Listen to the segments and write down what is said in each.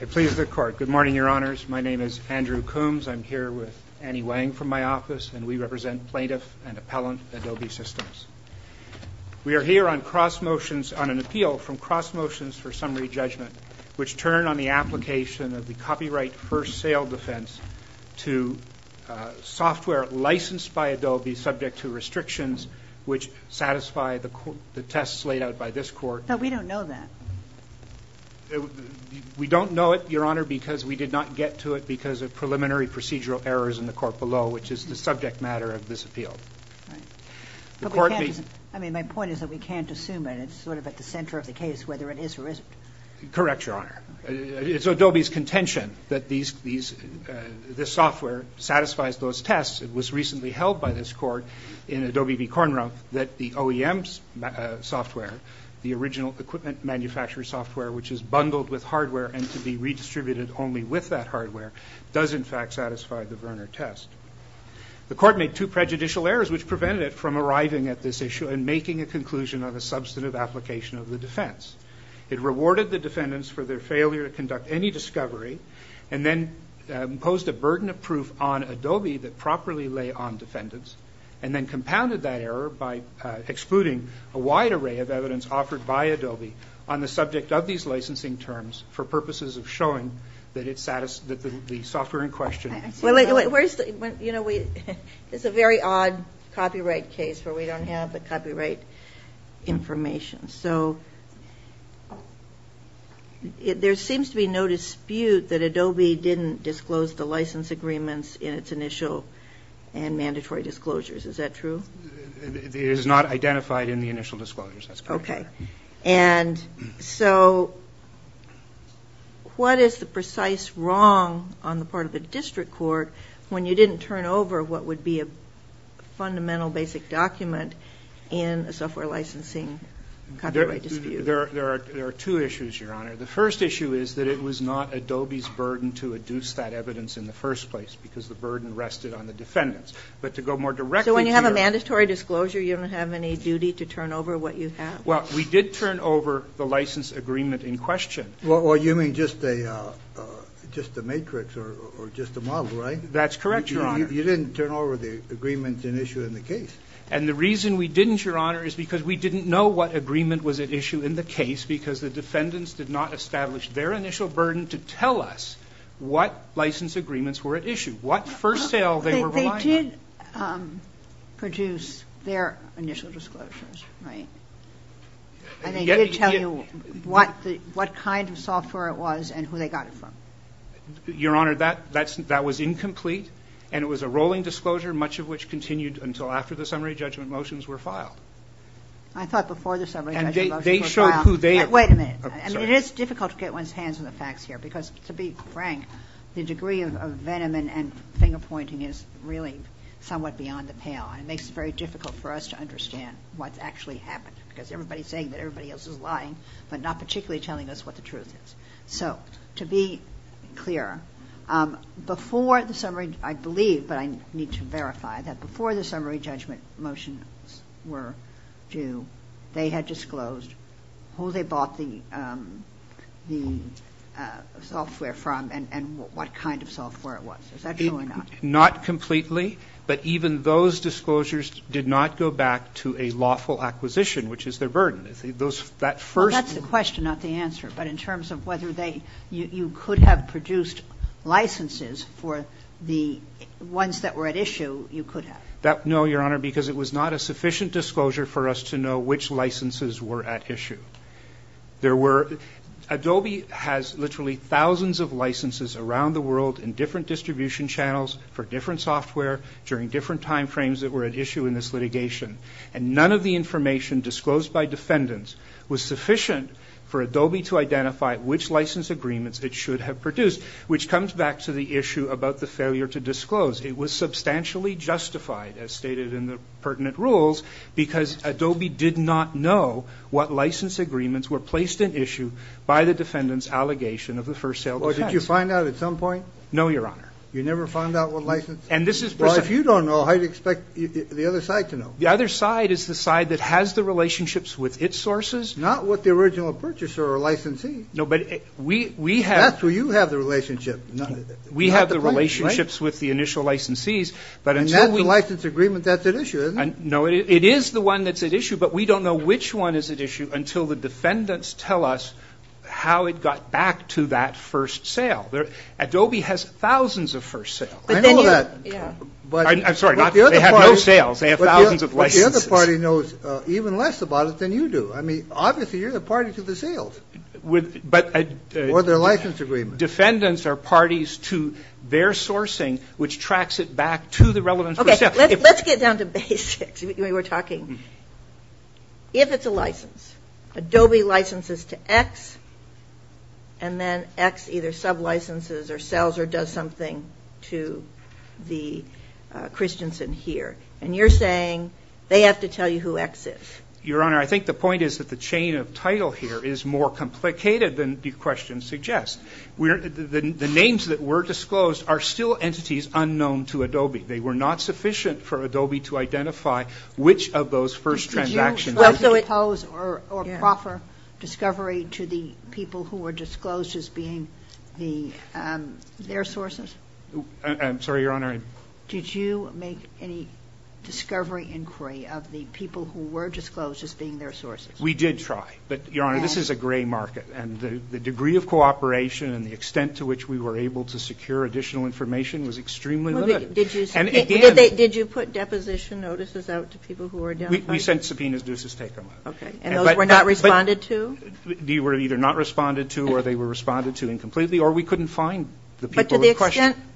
It pleases the court. Good morning, your honors. My name is Andrew Coombs. I'm here with Annie Wang from my office, and we represent Plaintiff and Appellant Adobe Systems. We are here on cross motions on an appeal from cross motions for summary judgment, which turn on the application of the copyright first sale defense to software licensed by Adobe subject to restrictions, which satisfy the tests laid out by this court. But we don't know that. We don't know it, your honor, because we did not get to it because of preliminary procedural errors in the court below, which is the subject matter of this appeal. I mean, my point is that we can't assume it. It's sort of at the center of the case, whether it is or isn't. Correct, your honor. It's Adobe's contention that this software satisfies those tests. It was recently held by this court in Adobe v. Cornrump that the OEM software, the original equipment manufacturer software, which is bundled with hardware and to be redistributed only with that hardware, does in fact satisfy the Verner test. The court made two prejudicial errors, which prevented it from arriving at this issue and making a conclusion on a substantive application of the defense. It rewarded the defendants for their failure to conduct any discovery and then imposed a burden of proof on Adobe that properly lay on defendants and then compounded that error by excluding a wide array of evidence offered by Adobe on the subject of these licensing terms for purposes of showing that the software in question. It's a very odd copyright case where we don't have the copyright information. So there seems to be no dispute that Adobe didn't disclose the license agreements in its initial and mandatory disclosures. Is that true? It is not identified in the initial disclosures. Okay. And so what is the precise wrong on the part of the district court when you didn't turn over what would be a fundamental basic document in a software licensing copyright dispute? There are two issues, Your Honor. The first issue is that it was not Adobe's burden to adduce that evidence in the first place because the burden rested on the defendants. But to go more directly to your... So when you have a mandatory disclosure, you don't have any duty to turn over what you have? Well, we did turn over the license agreement in question. Well, you mean just a matrix or just a model, right? That's correct, Your Honor. You didn't turn over the agreement at issue in the case. And the reason we didn't, Your Honor, is because we didn't know what agreement was at issue in the case because the defendants did not establish their initial burden to tell us what license agreements were at issue, what first sale they were relying on. But they did produce their initial disclosures, right? And they did tell you what kind of software it was and who they got it from. Your Honor, that was incomplete, and it was a rolling disclosure, much of which continued until after the summary judgment motions were filed. I thought before the summary judgment motions were filed. And they showed who they... Wait a minute. I'm sorry. It's difficult to get one's hands on the facts here because, to be frank, the degree of venom and finger pointing is really somewhat beyond the pale. And it makes it very difficult for us to understand what's actually happened because everybody's saying that everybody else is lying but not particularly telling us what the truth is. So to be clear, before the summary, I believe, but I need to verify that before the summary judgment motions were due, they had disclosed who they bought the software from and what kind of software it was. Is that true or not? Not completely. But even those disclosures did not go back to a lawful acquisition, which is their burden. That first... Well, that's the question, not the answer. But in terms of whether you could have produced licenses for the ones that were at issue, you could have. No, Your Honor, because it was not a sufficient disclosure for us to know which licenses were at issue. There were... Adobe has literally thousands of licenses around the world in different distribution channels for different software during different time frames that were at issue in this litigation. And none of the information disclosed by defendants was sufficient for Adobe to identify which license agreements it should have produced, which comes back to the issue about the failure to disclose. It was substantially justified, as stated in the pertinent rules, because Adobe did not know what license agreements were placed at issue by the defendant's allegation of the first sale defense. Well, did you find out at some point? No, Your Honor. You never found out what license? And this is... Well, if you don't know, how do you expect the other side to know? The other side is the side that has the relationships with its sources. Not what the original purchaser or licensee. No, but we have... That's where you have the relationship. We have the relationships with the initial licensees, but until we... And that's the license agreement that's at issue, isn't it? No, it is the one that's at issue, but we don't know which one is at issue until the defendants tell us how it got back to that first sale. Adobe has thousands of first sales. I know that. I'm sorry, they have no sales. They have thousands of licenses. But the other party knows even less about it than you do. I mean, obviously, you're the party to the sales. But... Or their license agreement. Defendants are parties to their sourcing, which tracks it back to the relevant first sale. Okay, let's get down to basics. We were talking. If it's a license, Adobe licenses to X, and then X either sublicenses or sells or does something to the Christiansen here. And you're saying they have to tell you who X is. Your Honor, I think the point is that the chain of title here is more complicated than the question suggests. The names that were disclosed are still entities unknown to Adobe. They were not sufficient for Adobe to identify which of those first transactions... Did you propose or proffer discovery to the people who were disclosed as being their sources? I'm sorry, Your Honor. Did you make any discovery inquiry of the people who were disclosed as being their sources? We did try. But, Your Honor, this is a gray market. And the degree of cooperation and the extent to which we were able to secure additional information was extremely limited. And, again... Did you put deposition notices out to people who were identified? We sent subpoenas just to take them out. Okay. And those were not responded to? They were either not responded to or they were responded to incompletely. Or we couldn't find the people who were questioned. But to the extent...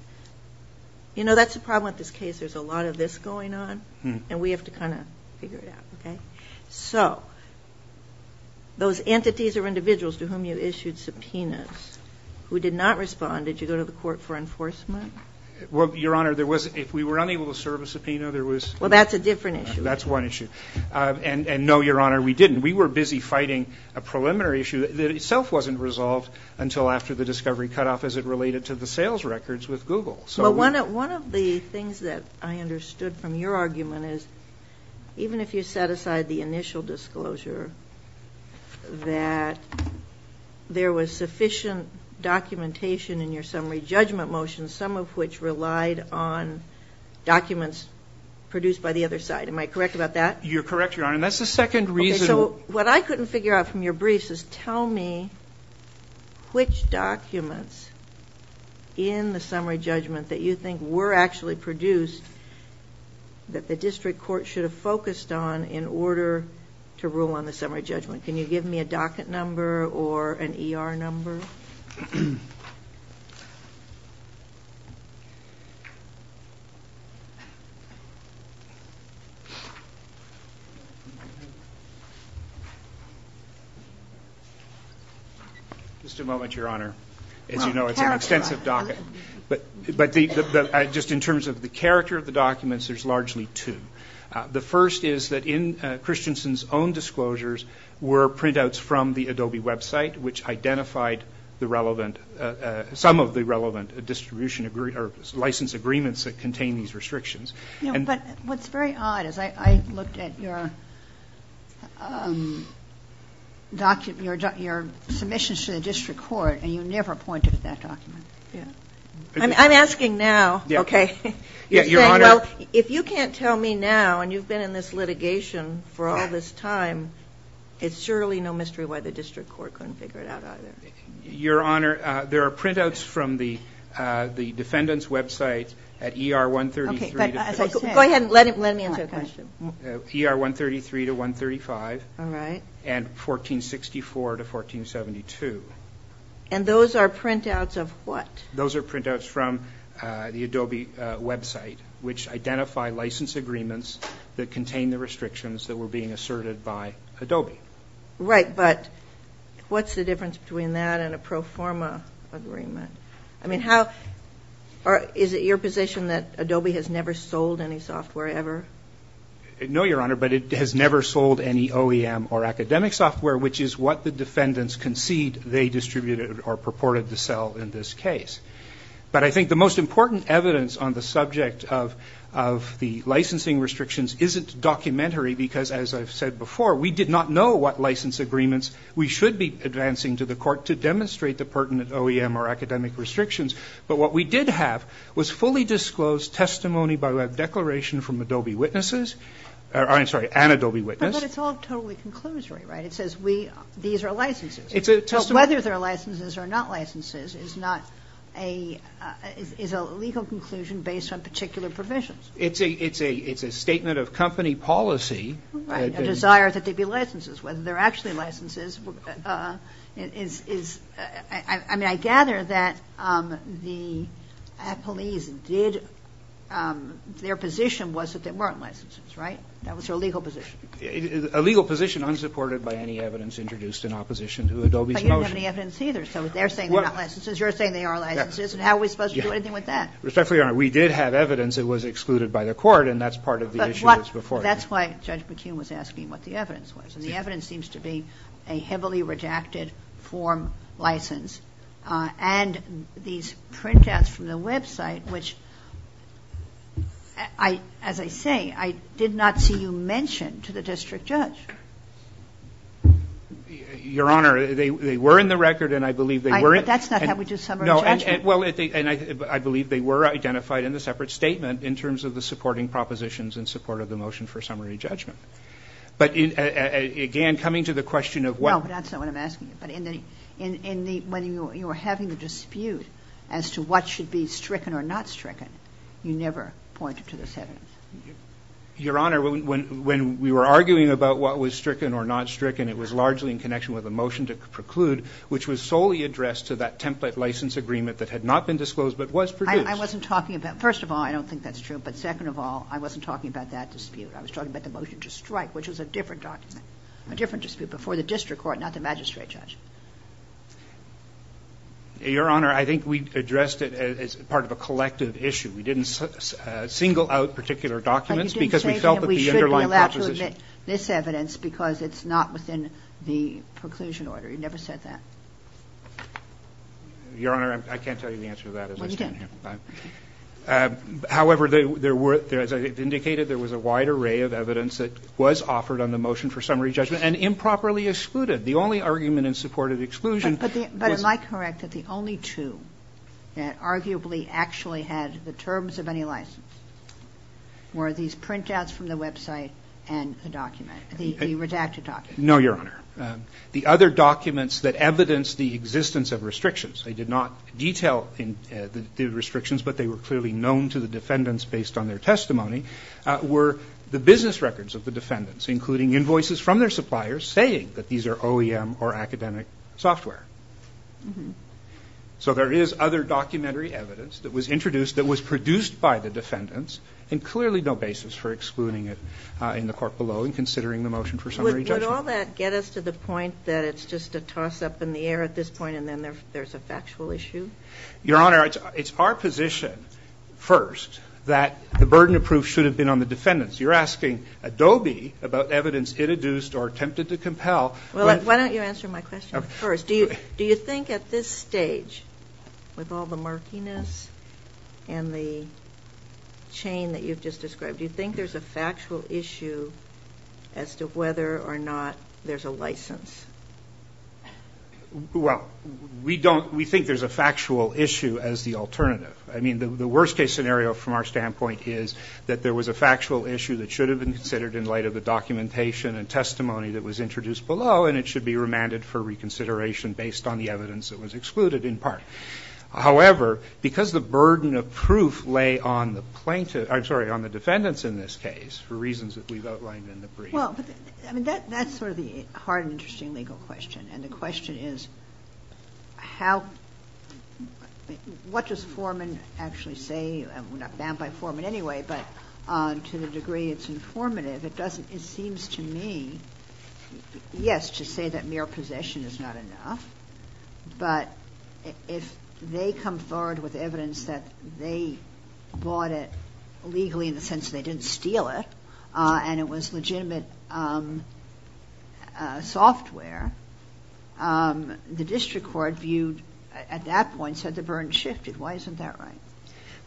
You know, that's the problem with this case. There's a lot of this going on. And we have to kind of figure it out, okay? So those entities or individuals to whom you issued subpoenas who did not respond, did you go to the court for enforcement? Well, Your Honor, there was... If we were unable to serve a subpoena, there was... Well, that's a different issue. That's one issue. And, no, Your Honor, we didn't. We were busy fighting a preliminary issue that itself wasn't resolved until after the discovery cutoff as it related to the sales records with Google. Well, one of the things that I understood from your argument is even if you set aside the initial disclosure that there was sufficient documentation in your summary judgment motion, some of which relied on documents produced by the other side. Am I correct about that? You're correct, Your Honor. And that's the second reason... What I couldn't figure out from your briefs is tell me which documents in the summary judgment that you think were actually produced that the district court should have focused on in order to rule on the summary judgment. Can you give me a docket number or an ER number? Just a moment, Your Honor. As you know, it's an extensive docket. But just in terms of the character of the documents, there's largely two. The first is that in Christensen's own disclosures were printouts from the Adobe website which identified some of the relevant license agreements that contain these restrictions. But what's very odd is I looked at your submissions to the district court and you never pointed to that document. I'm asking now, okay. If you can't tell me now and you've been in this litigation for all this time, it's surely no mystery why the district court couldn't figure it out either. Your Honor, there are printouts from the defendant's website at er133. Go ahead and let me answer the question. ER133 to 135. All right. And 1464 to 1472. And those are printouts of what? Those are printouts from the Adobe website which identify license agreements that contain the restrictions that were being asserted by Adobe. Right, but what's the difference between that and a pro forma agreement? Is it your position that Adobe has never sold any software ever? No, Your Honor, but it has never sold any OEM or academic software which is what the defendants concede they distributed or purported to sell in this case. But I think the most important evidence on the subject of the licensing restrictions isn't documentary because, as I've said before, we did not know what license agreements we should be advancing to the court to demonstrate the pertinent OEM or academic restrictions. But what we did have was fully disclosed testimony by web declaration from Adobe witnesses. I'm sorry, an Adobe witness. But it's all totally conclusory, right? It says these are licenses. So whether they're licenses or not licenses is a legal conclusion based on particular provisions. It's a statement of company policy. Right, a desire that they be licenses. Whether they're actually licenses is, I mean, I gather that the police did, their position was that they weren't licenses, right? That was their legal position. A legal position unsupported by any evidence introduced in opposition to Adobe's motion. But you don't have any evidence either. So they're saying they're not licenses. You're saying they are licenses. And how are we supposed to do anything with that? Respectfully, Your Honor, we did have evidence. It was excluded by the court. And that's part of the issue that's before you. But that's why Judge McKeon was asking what the evidence was. And the evidence seems to be a heavily redacted form license. And these printouts from the website, which, as I say, I did not see you mention to the district judge. Your Honor, they were in the record, and I believe they were. But that's not how we do summary judgment. Well, and I believe they were identified in the separate statement in terms of the supporting propositions in support of the motion for summary judgment. But, again, coming to the question of what. No, that's not what I'm asking. But when you were having a dispute as to what should be stricken or not stricken, you never pointed to this evidence. Your Honor, when we were arguing about what was stricken or not stricken, it was largely in connection with a motion to preclude, which was solely addressed to that template license agreement that had not been disclosed but was produced. I wasn't talking about – first of all, I don't think that's true. But second of all, I wasn't talking about that dispute. I was talking about the motion to strike, which was a different document, a different dispute before the district court, not the magistrate judge. Your Honor, I think we addressed it as part of a collective issue. We didn't single out particular documents because we felt that the underlying proposition – But you didn't say that we should be allowed to admit this evidence because it's not within the preclusion order. You never said that. Your Honor, I can't tell you the answer to that as I stand here. Well, you didn't. However, there were – as I indicated, there was a wide array of evidence that was offered on the motion for summary judgment and improperly excluded. The only argument in support of exclusion was – But am I correct that the only two that arguably actually had the terms of any license were these printouts from the website and the document, the redacted document? No, Your Honor. The other documents that evidenced the existence of restrictions – they did not detail the restrictions, but they were clearly known to the defendants based on their testimony – were the business records of the defendants, including invoices from their suppliers saying that these are OEM or academic software. So there is other documentary evidence that was introduced that was produced by the defendants and clearly no basis for excluding it in the court below in considering the motion for summary judgment. And would all that get us to the point that it's just a toss-up in the air at this point and then there's a factual issue? Your Honor, it's our position first that the burden of proof should have been on the defendants. You're asking Adobe about evidence it induced or attempted to compel. Well, why don't you answer my question first. Do you think at this stage, with all the murkiness and the chain that you've just described, you think there's a factual issue as to whether or not there's a license? Well, we don't – we think there's a factual issue as the alternative. I mean, the worst-case scenario from our standpoint is that there was a factual issue that should have been considered in light of the documentation and testimony that was introduced below and it should be remanded for reconsideration based on the evidence that was excluded in part. However, because the burden of proof lay on the plaintiff – I'm sorry, on the defendants in this case for reasons that we've outlined in the brief. Well, I mean, that's sort of the hard and interesting legal question. And the question is how – what does Foreman actually say – and we're not bound by Foreman anyway, but to the degree it's informative, it doesn't – it seems to me, yes, to say that mere possession is not enough, but if they come forward with evidence that they bought it legally in the sense that they didn't steal it and it was legitimate software, the district court viewed at that point said the burden shifted. Why isn't that right?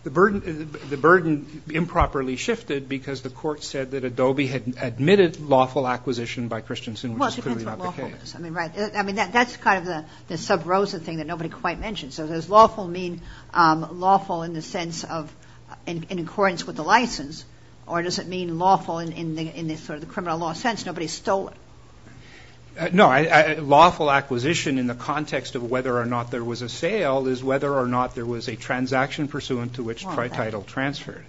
The burden improperly shifted because the court said that Adobe had admitted lawful acquisition by Christensen, which is clearly not the case. I mean, right. I mean, that's kind of the sub-Rosa thing that nobody quite mentioned. So does lawful mean lawful in the sense of in accordance with the license or does it mean lawful in the sort of criminal law sense, nobody stole it? No, lawful acquisition in the context of whether or not there was a sale is whether or not there was a transaction pursuant to which title transferred.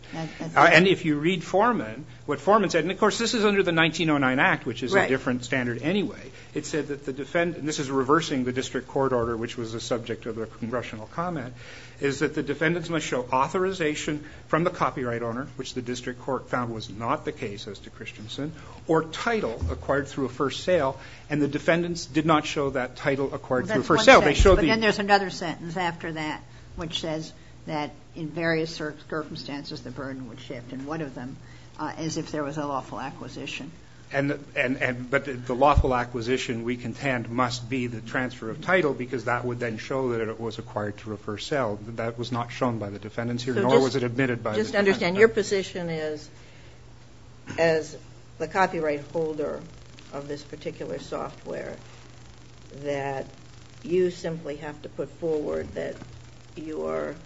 And if you read Foreman, what Foreman said – and of course, this is under the 1909 Act, which is a different standard anyway. It said that the defendant – and this is reversing the district court order, which was the subject of the congressional comment – is that the defendants must show authorization from the copyright owner, which the district court found was not the case as to Christensen, or title acquired through a first sale. And the defendants did not show that title acquired through a first sale. They showed the – But then there's another sentence after that, which says that in various circumstances the burden would shift, and one of them as if there was a lawful acquisition. But the lawful acquisition, we contend, must be the transfer of title because that would then show that it was acquired through a first sale. That was not shown by the defendants here, nor was it admitted by the defense. Just understand, your position is as the copyright holder of this particular software that you simply have to put forward that you are –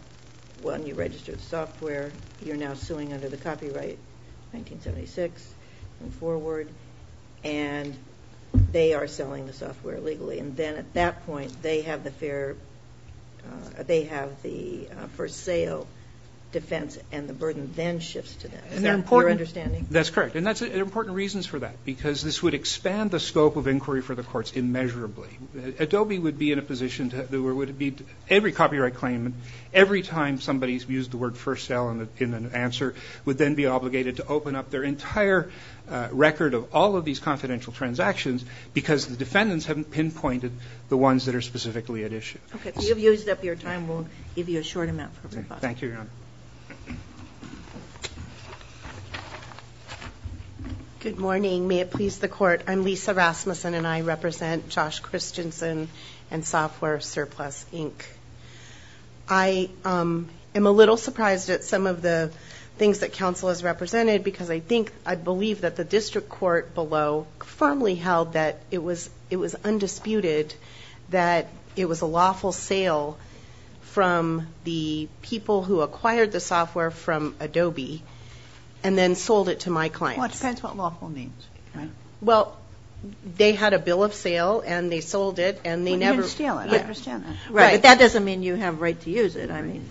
1976 and forward, and they are selling the software legally. And then at that point they have the first sale defense, and the burden then shifts to them. Is that your understanding? That's correct. And there are important reasons for that because this would expand the scope of inquiry for the courts immeasurably. Adobe would be in a position – every copyright claim, every time somebody used the word first sale in an answer would then be obligated to open up their entire record of all of these confidential transactions because the defendants haven't pinpointed the ones that are specifically at issue. Okay. So you've used up your time. We'll give you a short amount for rebuttal. Thank you, Your Honor. Good morning. May it please the Court, I'm Lisa Rasmussen, and I represent Josh Christensen and Software Surplus, Inc. I am a little surprised at some of the things that counsel has represented because I think – I believe that the district court below firmly held that it was undisputed that it was a lawful sale from the people who acquired the software from Adobe and then sold it to my clients. Well, it depends what lawful means, right? Well, they had a bill of sale and they sold it and they never – Well, you didn't steal it. I understand that. Right. But that doesn't mean you have a right to use it, I mean.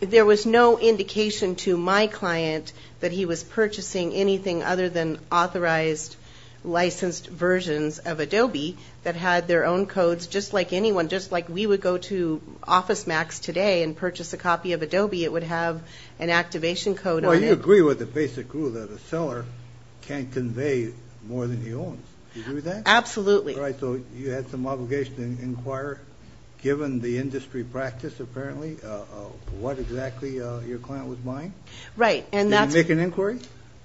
There was no indication to my client that he was purchasing anything other than authorized, licensed versions of Adobe that had their own codes, just like anyone, just like we would go to OfficeMax today and purchase a copy of Adobe. It would have an activation code on it. Well, you agree with the basic rule that a seller can't convey more than he owns. Do you agree with that? Absolutely. All right, so you had some obligation to inquire, given the industry practice apparently, what exactly your client was buying? Right. Did you make an inquiry?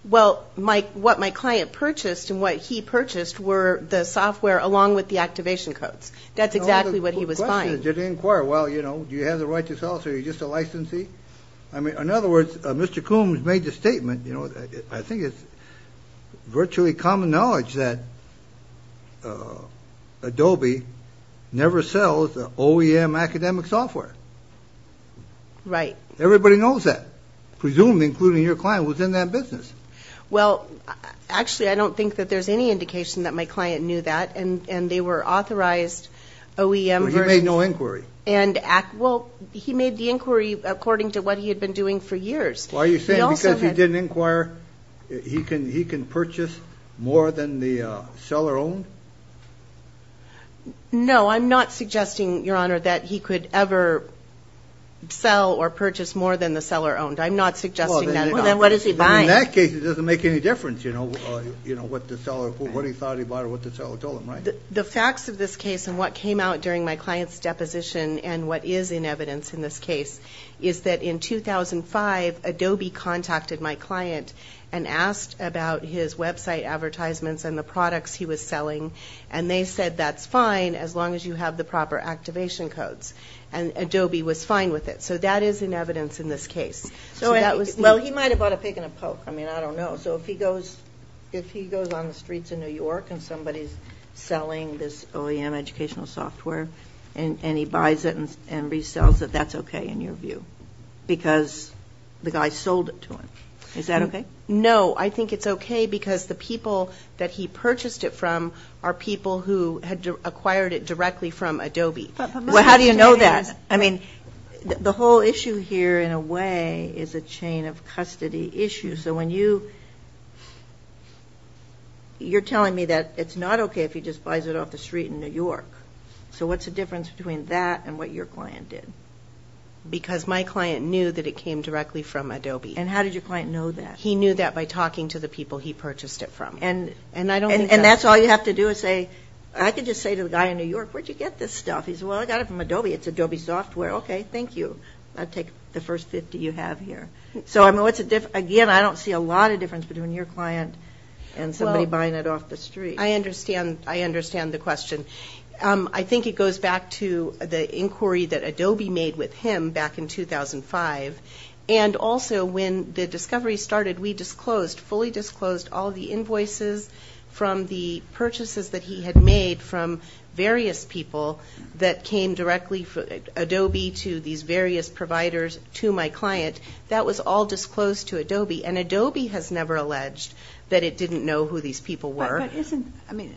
Well, what my client purchased and what he purchased were the software along with the activation codes. That's exactly what he was buying. The question is, did he inquire? Well, you know, do you have the right to sell? So are you just a licensee? I mean, in other words, Mr. Coombs made the statement, you know, I think it's virtually common knowledge that Adobe never sells OEM academic software. Right. Everybody knows that, presumably including your client who was in that business. Well, actually, I don't think that there's any indication that my client knew that, and they were authorized OEM versions. Well, he made no inquiry. Well, he made the inquiry according to what he had been doing for years. Well, are you saying because he didn't inquire, he can purchase more than the seller owned? No, I'm not suggesting, Your Honor, that he could ever sell or purchase more than the seller owned. I'm not suggesting that at all. Well, then what is he buying? In that case, it doesn't make any difference, you know, what the seller, what he thought he bought or what the seller told him, right? The facts of this case and what came out during my client's deposition and what is in evidence in this case is that in 2005, Adobe contacted my client and asked about his website advertisements and the products he was selling, and they said that's fine as long as you have the proper activation codes, and Adobe was fine with it. So that is in evidence in this case. Well, he might have bought a pick and a poke. I mean, I don't know. So if he goes on the streets of New York and somebody is selling this OEM educational software and he buys it and resells it, that's okay in your view? Because the guy sold it to him. Is that okay? No, I think it's okay because the people that he purchased it from are people who had acquired it directly from Adobe. Well, how do you know that? I mean, the whole issue here in a way is a chain of custody issue. So when you, you're telling me that it's not okay if he just buys it off the street in New York. So what's the difference between that and what your client did? Because my client knew that it came directly from Adobe. And how did your client know that? He knew that by talking to the people he purchased it from. And that's all you have to do is say, I can just say to the guy in New York, where did you get this stuff? He says, well, I got it from Adobe. It's Adobe software. Okay, thank you. I'll take the first 50 you have here. So, again, I don't see a lot of difference between your client and somebody buying it off the street. I understand the question. I think it goes back to the inquiry that Adobe made with him back in 2005. And also when the discovery started, we disclosed, fully disclosed, all the invoices from the purchases that he had made from various people that came directly from Adobe to these various providers to my client. That was all disclosed to Adobe. And Adobe has never alleged that it didn't know who these people were. But isn't, I mean,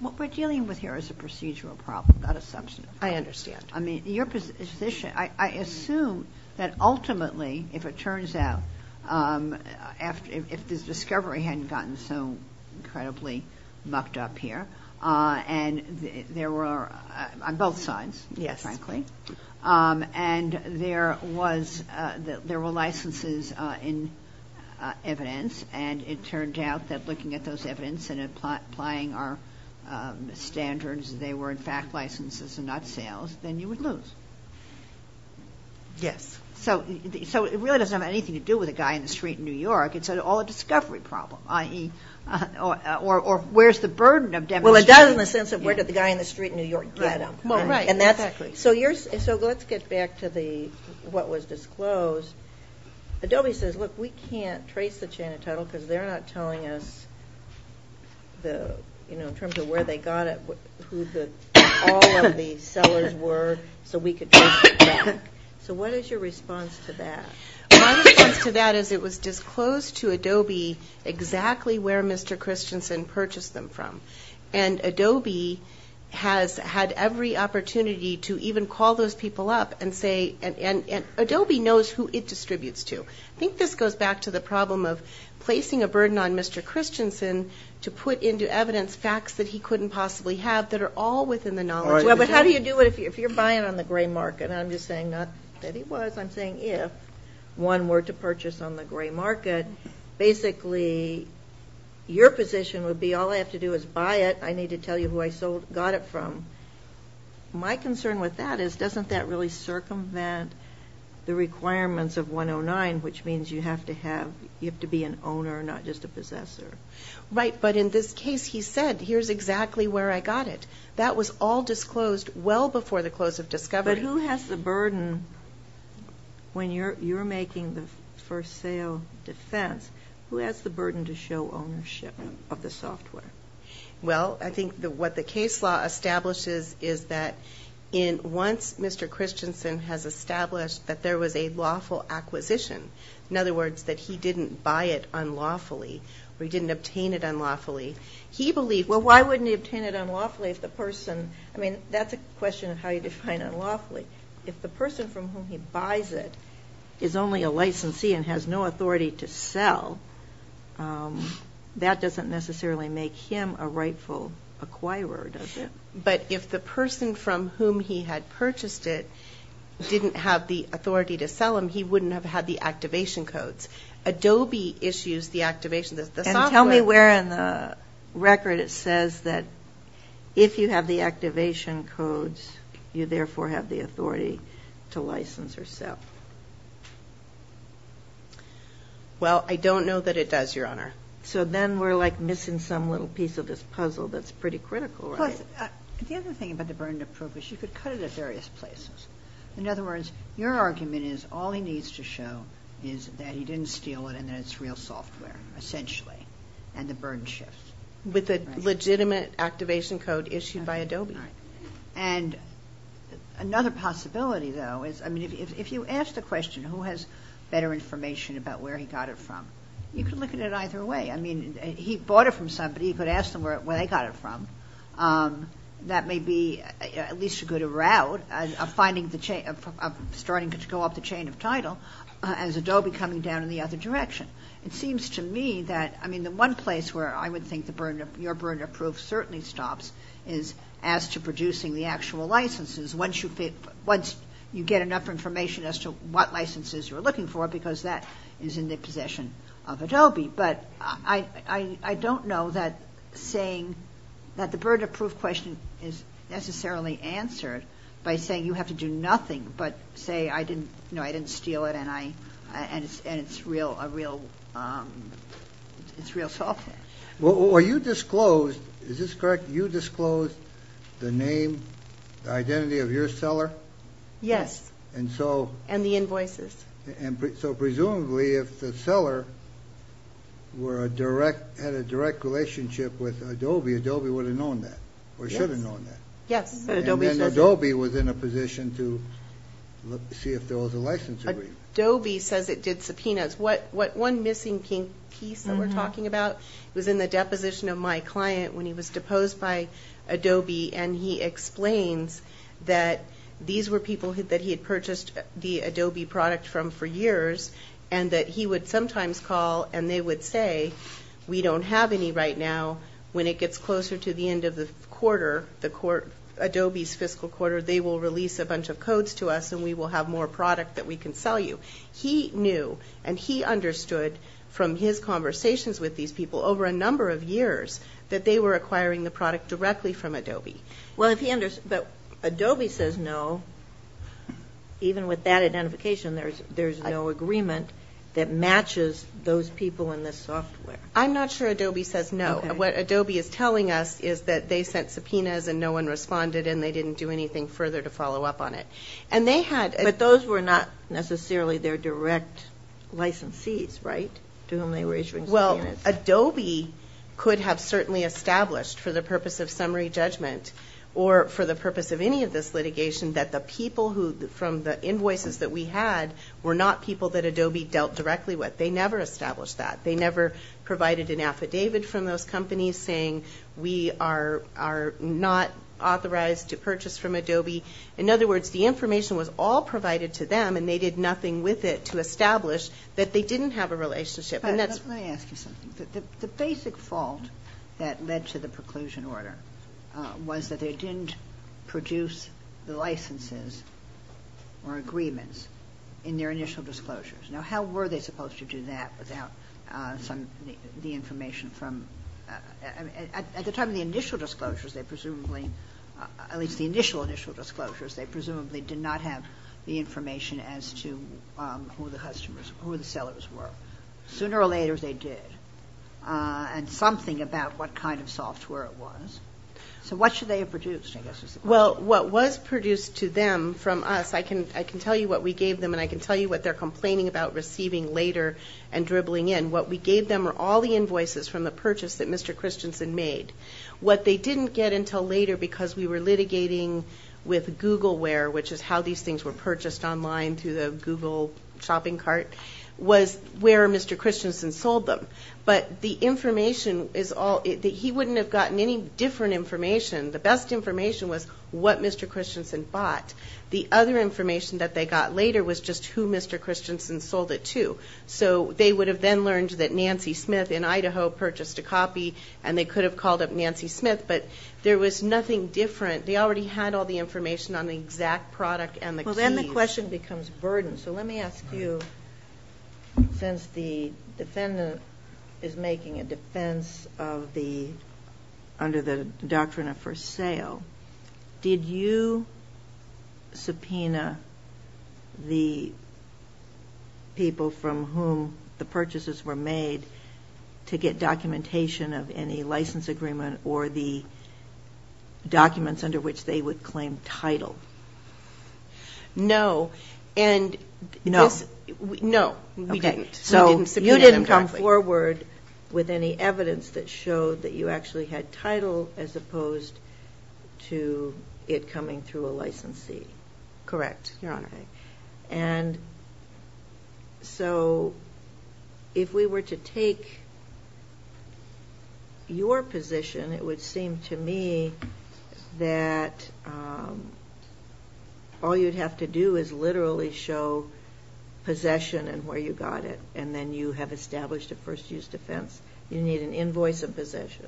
what we're dealing with here is a procedural problem, not a substantive problem. I understand. I mean, your position, I assume that ultimately, if it turns out, if this discovery hadn't gotten so incredibly mucked up here, and there were, on both sides, frankly. And there was, there were licenses in evidence, and it turned out that looking at those evidence and applying our standards, they were, in fact, licenses and not sales, then you would lose. Yes. So it really doesn't have anything to do with a guy in the street in New York. It's all a discovery problem, i.e., or where's the burden of demonstration? Well, it does in the sense of where did the guy in the street in New York get him. Well, right, exactly. So let's get back to what was disclosed. Adobe says, look, we can't trace the chain of title because they're not telling us the, you know, in terms of where they got it, who all of the sellers were, so we could trace it back. So what is your response to that? My response to that is it was disclosed to Adobe exactly where Mr. Christensen purchased them from. And Adobe has had every opportunity to even call those people up and say, and Adobe knows who it distributes to. I think this goes back to the problem of placing a burden on Mr. Christensen to put into evidence facts that he couldn't possibly have that are all within the knowledge. But how do you do it if you're buying on the gray market? And I'm just saying not that he was. I'm saying if one were to purchase on the gray market, basically your position would be all I have to do is buy it. I need to tell you who I got it from. My concern with that is doesn't that really circumvent the requirements of 109, which means you have to be an owner, not just a possessor? Right, but in this case he said, here's exactly where I got it. That was all disclosed well before the close of discovery. But who has the burden when you're making the first sale defense, who has the burden to show ownership of the software? Well, I think what the case law establishes is that once Mr. Christensen has established that there was a lawful acquisition, in other words, that he didn't buy it unlawfully or he didn't obtain it unlawfully, he believed, well, why wouldn't he obtain it unlawfully if the person, I mean, that's a question of how you define unlawfully. If the person from whom he buys it is only a licensee and has no authority to sell, that doesn't necessarily make him a rightful acquirer, does it? But if the person from whom he had purchased it didn't have the authority to sell him, he wouldn't have had the activation codes. Adobe issues the activation codes. And tell me where in the record it says that if you have the activation codes, you therefore have the authority to license or sell. Well, I don't know that it does, Your Honor. So then we're, like, missing some little piece of this puzzle that's pretty critical, right? Plus, the other thing about the burden to prove is you could cut it at various places. In other words, your argument is all he needs to show is that he didn't steal it and that it's real software, essentially, and the burden shifts. With a legitimate activation code issued by Adobe. Right. And another possibility, though, is, I mean, if you ask the question, who has better information about where he got it from, you can look at it either way. I mean, he bought it from somebody. He could ask them where they got it from. That may be at least a good route of starting to go up the chain of title as Adobe coming down in the other direction. It seems to me that, I mean, the one place where I would think your burden to prove certainly stops is as to producing the actual licenses once you get enough information as to what licenses you're looking for because that is in the possession of Adobe. But I don't know that saying that the burden to prove question is necessarily answered by saying you have to do nothing but say I didn't steal it and it's real software. Well, are you disclosed, is this correct, you disclosed the name, the identity of your seller? Yes. And so? And the invoices. And so presumably if the seller had a direct relationship with Adobe, Adobe would have known that or should have known that. Yes. And then Adobe was in a position to see if there was a license agreement. Adobe says it did subpoenas. One missing piece that we're talking about was in the deposition of my client when he was deposed by Adobe and he explains that these were people that he had purchased the Adobe product from for years and that he would sometimes call and they would say we don't have any right now. When it gets closer to the end of the quarter, Adobe's fiscal quarter, they will release a bunch of codes to us and we will have more product that we can sell you. He knew and he understood from his conversations with these people over a number of years that they were acquiring the product directly from Adobe. But Adobe says no, even with that identification, there's no agreement that matches those people in this software. I'm not sure Adobe says no. What Adobe is telling us is that they sent subpoenas and no one responded and they didn't do anything further to follow up on it. But those were not necessarily their direct licensees, right? To whom they were issuing subpoenas. Well, Adobe could have certainly established for the purpose of summary judgment or for the purpose of any of this litigation that the people from the invoices that we had were not people that Adobe dealt directly with. They never established that. They never provided an affidavit from those companies saying we are not authorized to purchase from Adobe. In other words, the information was all provided to them and they did nothing with it to establish that they didn't have a relationship. Let me ask you something. The basic fault that led to the preclusion order was that they didn't produce the licenses or agreements in their initial disclosures. Now, how were they supposed to do that without the information from at the time of the initial disclosures, they presumably, at least the initial initial disclosures, they presumably did not have the information as to who the sellers were. Sooner or later, they did. And something about what kind of software it was. So what should they have produced, I guess, is the question. Well, what was produced to them from us, I can tell you what we gave them and I can tell you what they're complaining about receiving later and dribbling in. What we gave them were all the invoices from the purchase that Mr. Christensen made. What they didn't get until later, because we were litigating with Googleware, which is how these things were purchased online through the Google shopping cart, was where Mr. Christensen sold them. But the information is all, he wouldn't have gotten any different information. The best information was what Mr. Christensen bought. The other information that they got later was just who Mr. Christensen sold it to. So they would have then learned that Nancy Smith in Idaho purchased a copy and they could have called up Nancy Smith, but there was nothing different. They already had all the information on the exact product and the keys. Well, then the question becomes burdensome. Let me ask you, since the defendant is making a defense under the doctrine of for sale, did you subpoena the people from whom the purchases were made to get documentation of any license agreement or the documents under which they would claim title? No. No? No, we didn't. So you didn't come forward with any evidence that showed that you actually had title as opposed to it coming through a licensee. Correct, Your Honor. And so if we were to take your position, it would seem to me that all you'd have to do is literally show possession and where you got it, and then you have established a first-use defense. You need an invoice of possession.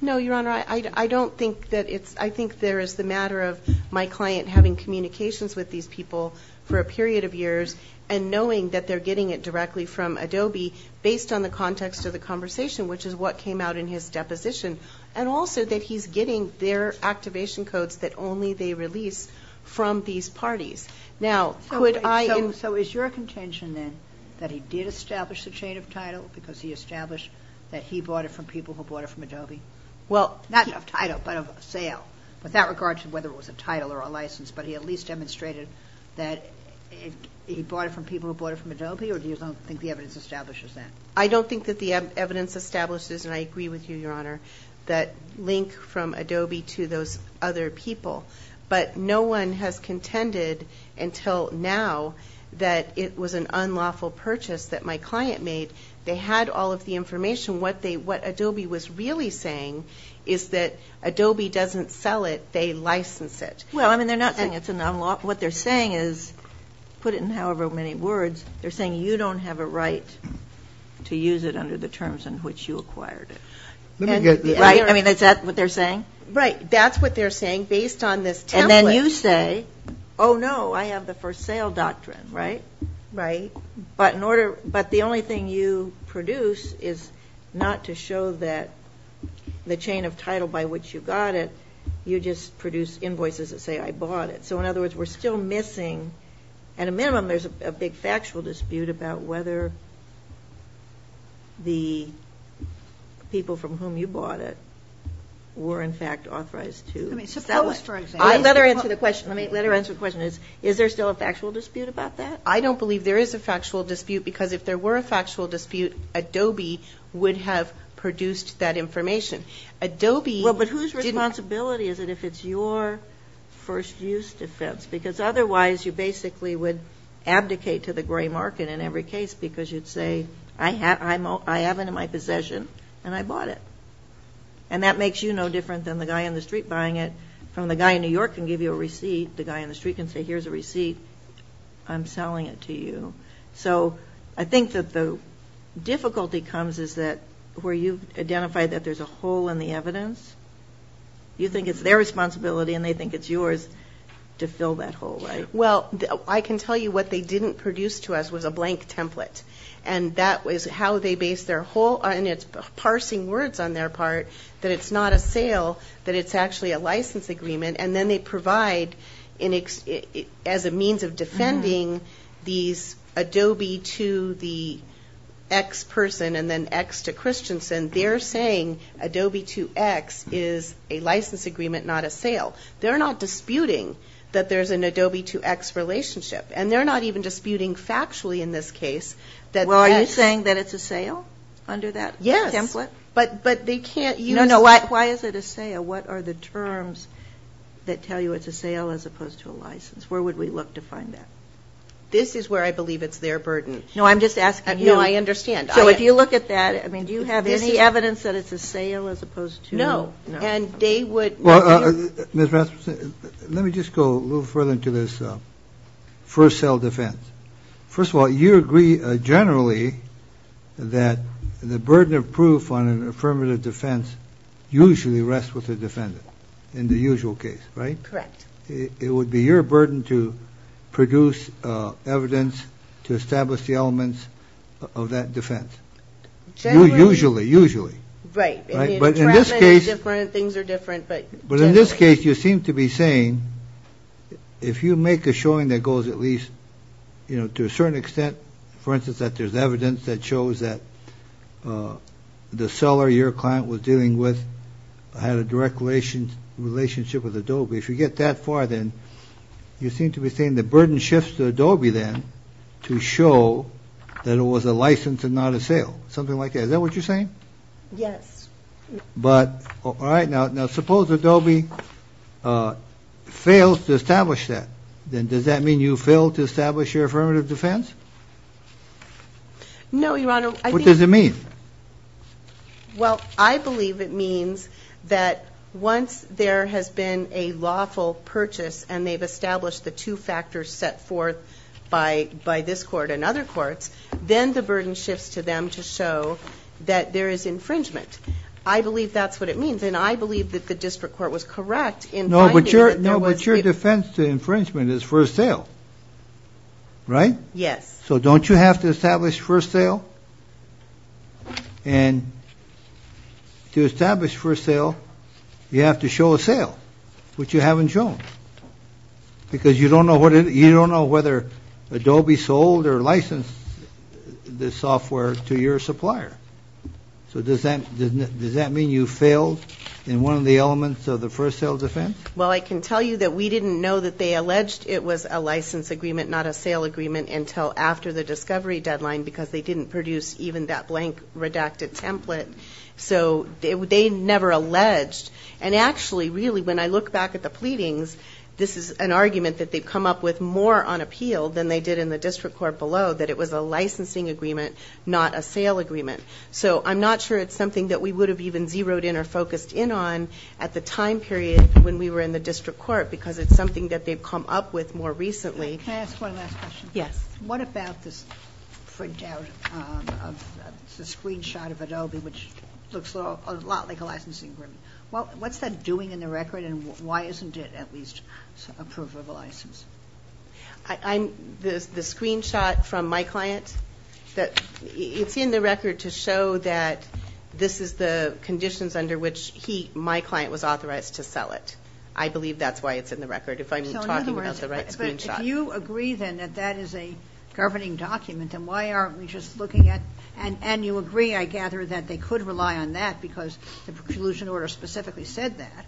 No, Your Honor. I don't think that it's – I think there is the matter of my client having communications with these people for a period of years and knowing that they're getting it directly from Adobe based on the context of the conversation, which is what came out in his deposition, and also that he's getting their activation codes that only they release from these parties. Now, could I – So is your contention then that he did establish the chain of title because he established that he bought it from people who bought it from Adobe? Well, not of title but of sale, with that regard to whether it was a title or a license, but he at least demonstrated that he bought it from people who bought it from Adobe, or do you think the evidence establishes that? I don't think that the evidence establishes, and I agree with you, Your Honor, that link from Adobe to those other people, but no one has contended until now that it was an unlawful purchase that my client made. They had all of the information. What Adobe was really saying is that Adobe doesn't sell it, they license it. Well, I mean, they're not saying it's unlawful. What they're saying is, put it in however many words, they're saying you don't have a right to use it under the terms in which you acquired it. Let me get this. Right? I mean, is that what they're saying? Right. That's what they're saying based on this template. And then you say, oh, no, I have the for sale doctrine, right? Right. But the only thing you produce is not to show that the chain of title by which you got it, you just produce invoices that say I bought it. So, in other words, we're still missing, at a minimum, there's a big factual dispute about whether the people from whom you bought it were, in fact, authorized to. Suppose, for example. Let her answer the question. Let her answer the question. Is there still a factual dispute about that? I don't believe there is a factual dispute because if there were a factual dispute, Adobe would have produced that information. Adobe. Well, but whose responsibility is it if it's your first use defense? Because otherwise you basically would abdicate to the gray market in every case because you'd say I have it in my possession and I bought it. And that makes you no different than the guy in the street buying it. From the guy in New York can give you a receipt, the guy in the street can say here's a receipt. I'm selling it to you. So I think that the difficulty comes is that where you've identified that there's a hole in the evidence, you think it's their responsibility and they think it's yours to fill that hole, right? Well, I can tell you what they didn't produce to us was a blank template, and that was how they based their whole, and it's parsing words on their part, that it's not a sale, that it's actually a license agreement, and then they provide as a means of defending these Adobe to the X person and then X to Christensen. They're saying Adobe to X is a license agreement, not a sale. They're not disputing that there's an Adobe to X relationship, and they're not even disputing factually in this case that X. Well, are you saying that it's a sale under that template? Yes, but they can't use. No, no, why is it a sale? What are the terms that tell you it's a sale as opposed to a license? Where would we look to find that? This is where I believe it's their burden. No, I'm just asking. No, I understand. So if you look at that, I mean, do you have any evidence that it's a sale as opposed to? No, no. And they would. Well, Ms. Rasmussen, let me just go a little further into this first sale defense. First of all, you agree generally that the burden of proof on an affirmative defense usually rests with the defendant in the usual case, right? Correct. It would be your burden to produce evidence to establish the elements of that defense. Generally. Usually, usually. Right. But in this case. Things are different. But in this case, you seem to be saying if you make a showing that goes at least, you know, to a certain extent, for instance, that there's evidence that shows that the seller your client was dealing with had a direct relationship with Adobe. If you get that far, then you seem to be saying the burden shifts to Adobe then to show that it was a license and not a sale. Something like that. Is that what you're saying? Yes. But. All right. Now, suppose Adobe fails to establish that, then does that mean you fail to establish your affirmative defense? No, Your Honor. What does it mean? Well, I believe it means that once there has been a lawful purchase and they've established the two factors set forth by this court and other courts, then the burden shifts to them to show that there is infringement. I believe that's what it means. And I believe that the district court was correct in finding that there was. No, but your defense to infringement is first sale. Right? Yes. So don't you have to establish first sale? And to establish first sale, you have to show a sale, which you haven't shown. Because you don't know whether Adobe sold or licensed the software to your supplier. So does that mean you failed in one of the elements of the first sale defense? Well, I can tell you that we didn't know that they alleged it was a license agreement, not a sale agreement, until after the discovery deadline because they didn't produce even that blank redacted template. So they never alleged. And actually, really, when I look back at the pleadings, this is an argument that they've come up with more on appeal than they did in the district court below, that it was a licensing agreement, not a sale agreement. So I'm not sure it's something that we would have even zeroed in or focused in on at the time period when we were in the district court because it's something that they've come up with more recently. Can I ask one last question? Yes. What about this printout of the screenshot of Adobe, which looks a lot like a licensing agreement? What's that doing in the record, and why isn't it at least a proof of a license? The screenshot from my client? It's in the record to show that this is the conditions under which my client was authorized to sell it. I believe that's why it's in the record, if I'm talking about the right screenshot. But if you agree, then, that that is a governing document, then why aren't we just looking at ñ and you agree, I gather, that they could rely on that because the preclusion order specifically said that.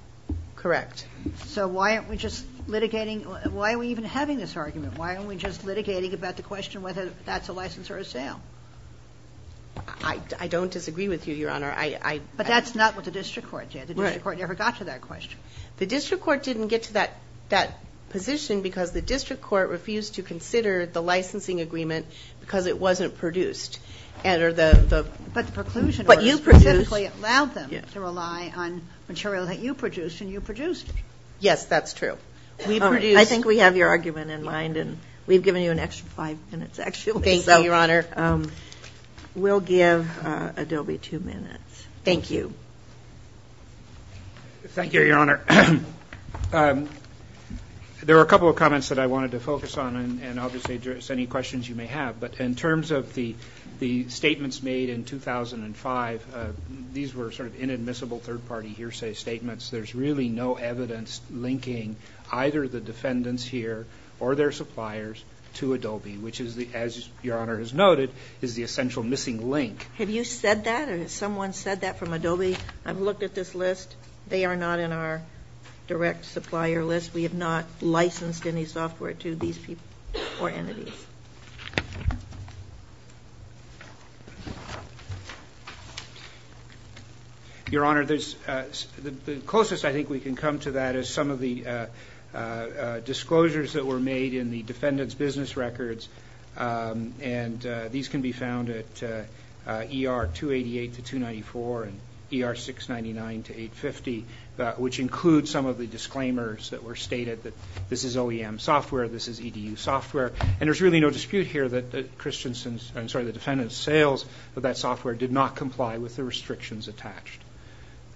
Correct. So why aren't we just litigating? Why are we even having this argument? Why aren't we just litigating about the question whether that's a license or a sale? I don't disagree with you, Your Honor. But that's not what the district court did. The district court never got to that question. The district court didn't get to that position because the district court refused to consider the licensing agreement because it wasn't produced. But the preclusion order specifically allowed them to rely on material that you produced, and you produced it. Yes, that's true. I think we have your argument in mind, and we've given you an extra five minutes, actually. Thank you, Your Honor. We'll give Adobe two minutes. Thank you. Thank you, Your Honor. There were a couple of comments that I wanted to focus on, and I'll just address any questions you may have. But in terms of the statements made in 2005, these were sort of inadmissible third-party hearsay statements. There's really no evidence linking either the defendants here or their suppliers to Adobe, which is, as Your Honor has noted, is the essential missing link. Have you said that? Or has someone said that from Adobe? I've looked at this list. They are not in our direct supplier list. We have not licensed any software to these people or entities. Your Honor, the closest I think we can come to that is some of the disclosures that were made in the defendant's business records, and these can be found at ER 288 to 294 and ER 699 to 850, which include some of the disclaimers that were stated that this is OEM software, this is EDU software. And there's really no dispute here that the defendant's sales of that software did not comply with the restrictions attached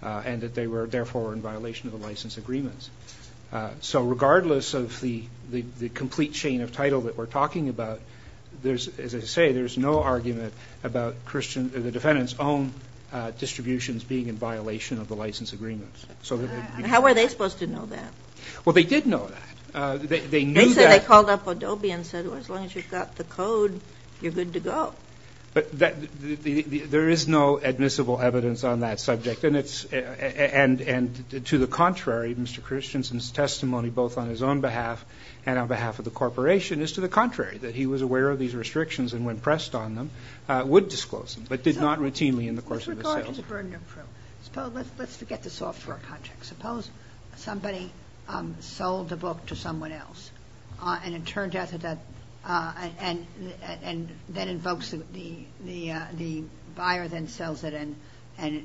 and that they were therefore in violation of the license agreements. So regardless of the complete chain of title that we're talking about, as I say, there's no argument about the defendant's own distributions being in violation of the license agreements. How were they supposed to know that? Well, they did know that. They said they called up Adobe and said, well, as long as you've got the code, you're good to go. But there is no admissible evidence on that subject. And to the contrary, Mr. Christensen's testimony both on his own behalf and on behalf of the corporation is to the contrary, that he was aware of these restrictions and when pressed on them would disclose them, but did not routinely in the course of his sales. Let's forget the software project. Suppose somebody sold a book to someone else and it turned out that that and then invokes the buyer then sells it and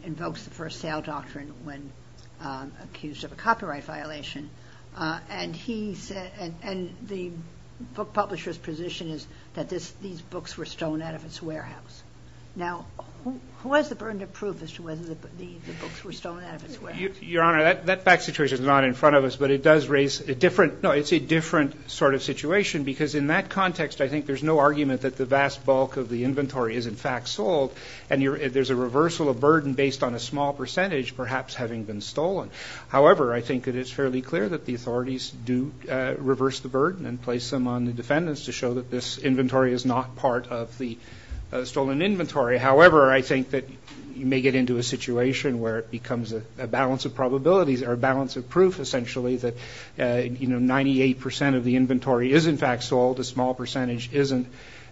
invokes the first sale doctrine when accused of a copyright violation. And he said, and the book publisher's position is that these books were stolen out of its warehouse. Now, who has the burden of proof as to whether the books were stolen out of its warehouse? Your Honor, that back situation is not in front of us, but it does raise a different, no, it's a different sort of situation because in that context, I think there's no argument that the vast bulk of the inventory is in fact sold. And there's a reversal of burden based on a small percentage perhaps having been stolen. However, I think it is fairly clear that the authorities do reverse the burden and place them on the defendants to show that this inventory is not part of the stolen inventory. However, I think that you may get into a situation where it becomes a balance of probabilities or a balance of proof essentially that, you know, 98 percent of the inventory is in fact sold, a small percentage isn't,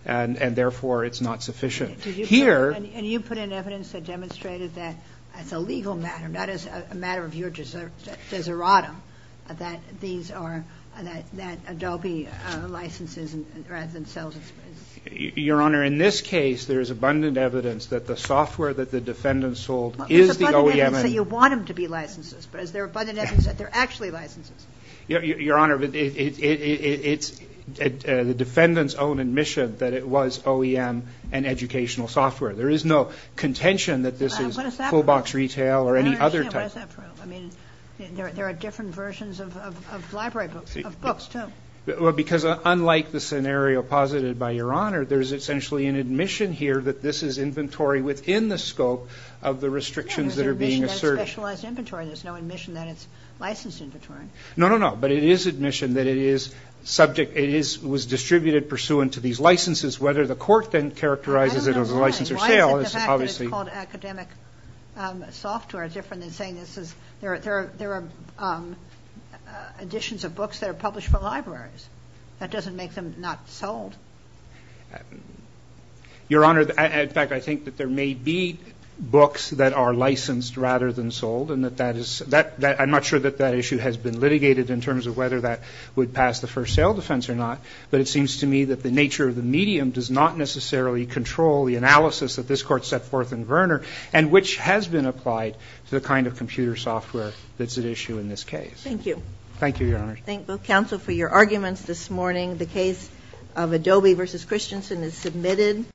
and therefore it's not sufficient. Here. And you put in evidence that demonstrated that as a legal matter, not as a matter of your deseratum, that these are, that Adobe licenses rather than sells. Your Honor, in this case, there is abundant evidence that the software that the defendant sold is the OEM. So you want them to be licenses, but is there abundant evidence that they're actually licenses? Your Honor, it's the defendant's own admission that it was OEM and educational software. There is no contention that this is full box retail or any other type. What is that proof? I mean, there are different versions of library books, of books too. Well, because unlike the scenario posited by Your Honor, there's essentially an admission here that this is inventory within the scope of the restrictions that are being asserted. There's no admission that it's specialized inventory. There's no admission that it's licensed inventory. No, no, no. But it is admission that it is subject, it is, was distributed pursuant to these licenses, whether the court then characterizes it as a license or sale is obviously. Why is it the fact that it's called academic software different than saying this is, there are editions of books that are published for libraries? That doesn't make them not sold. Your Honor, in fact, I think that there may be books that are licensed rather than sold and that that is, I'm not sure that that issue has been litigated in terms of whether that would pass the first sale defense or not, but it seems to me that the nature of the medium does not necessarily control the analysis that this Court set forth in Verner and which has been applied to the kind of computer software that's at issue in this case. Thank you. Thank you, Your Honor. Thank you, counsel, for your arguments this morning. The case of Adobe v. Christensen is submitted.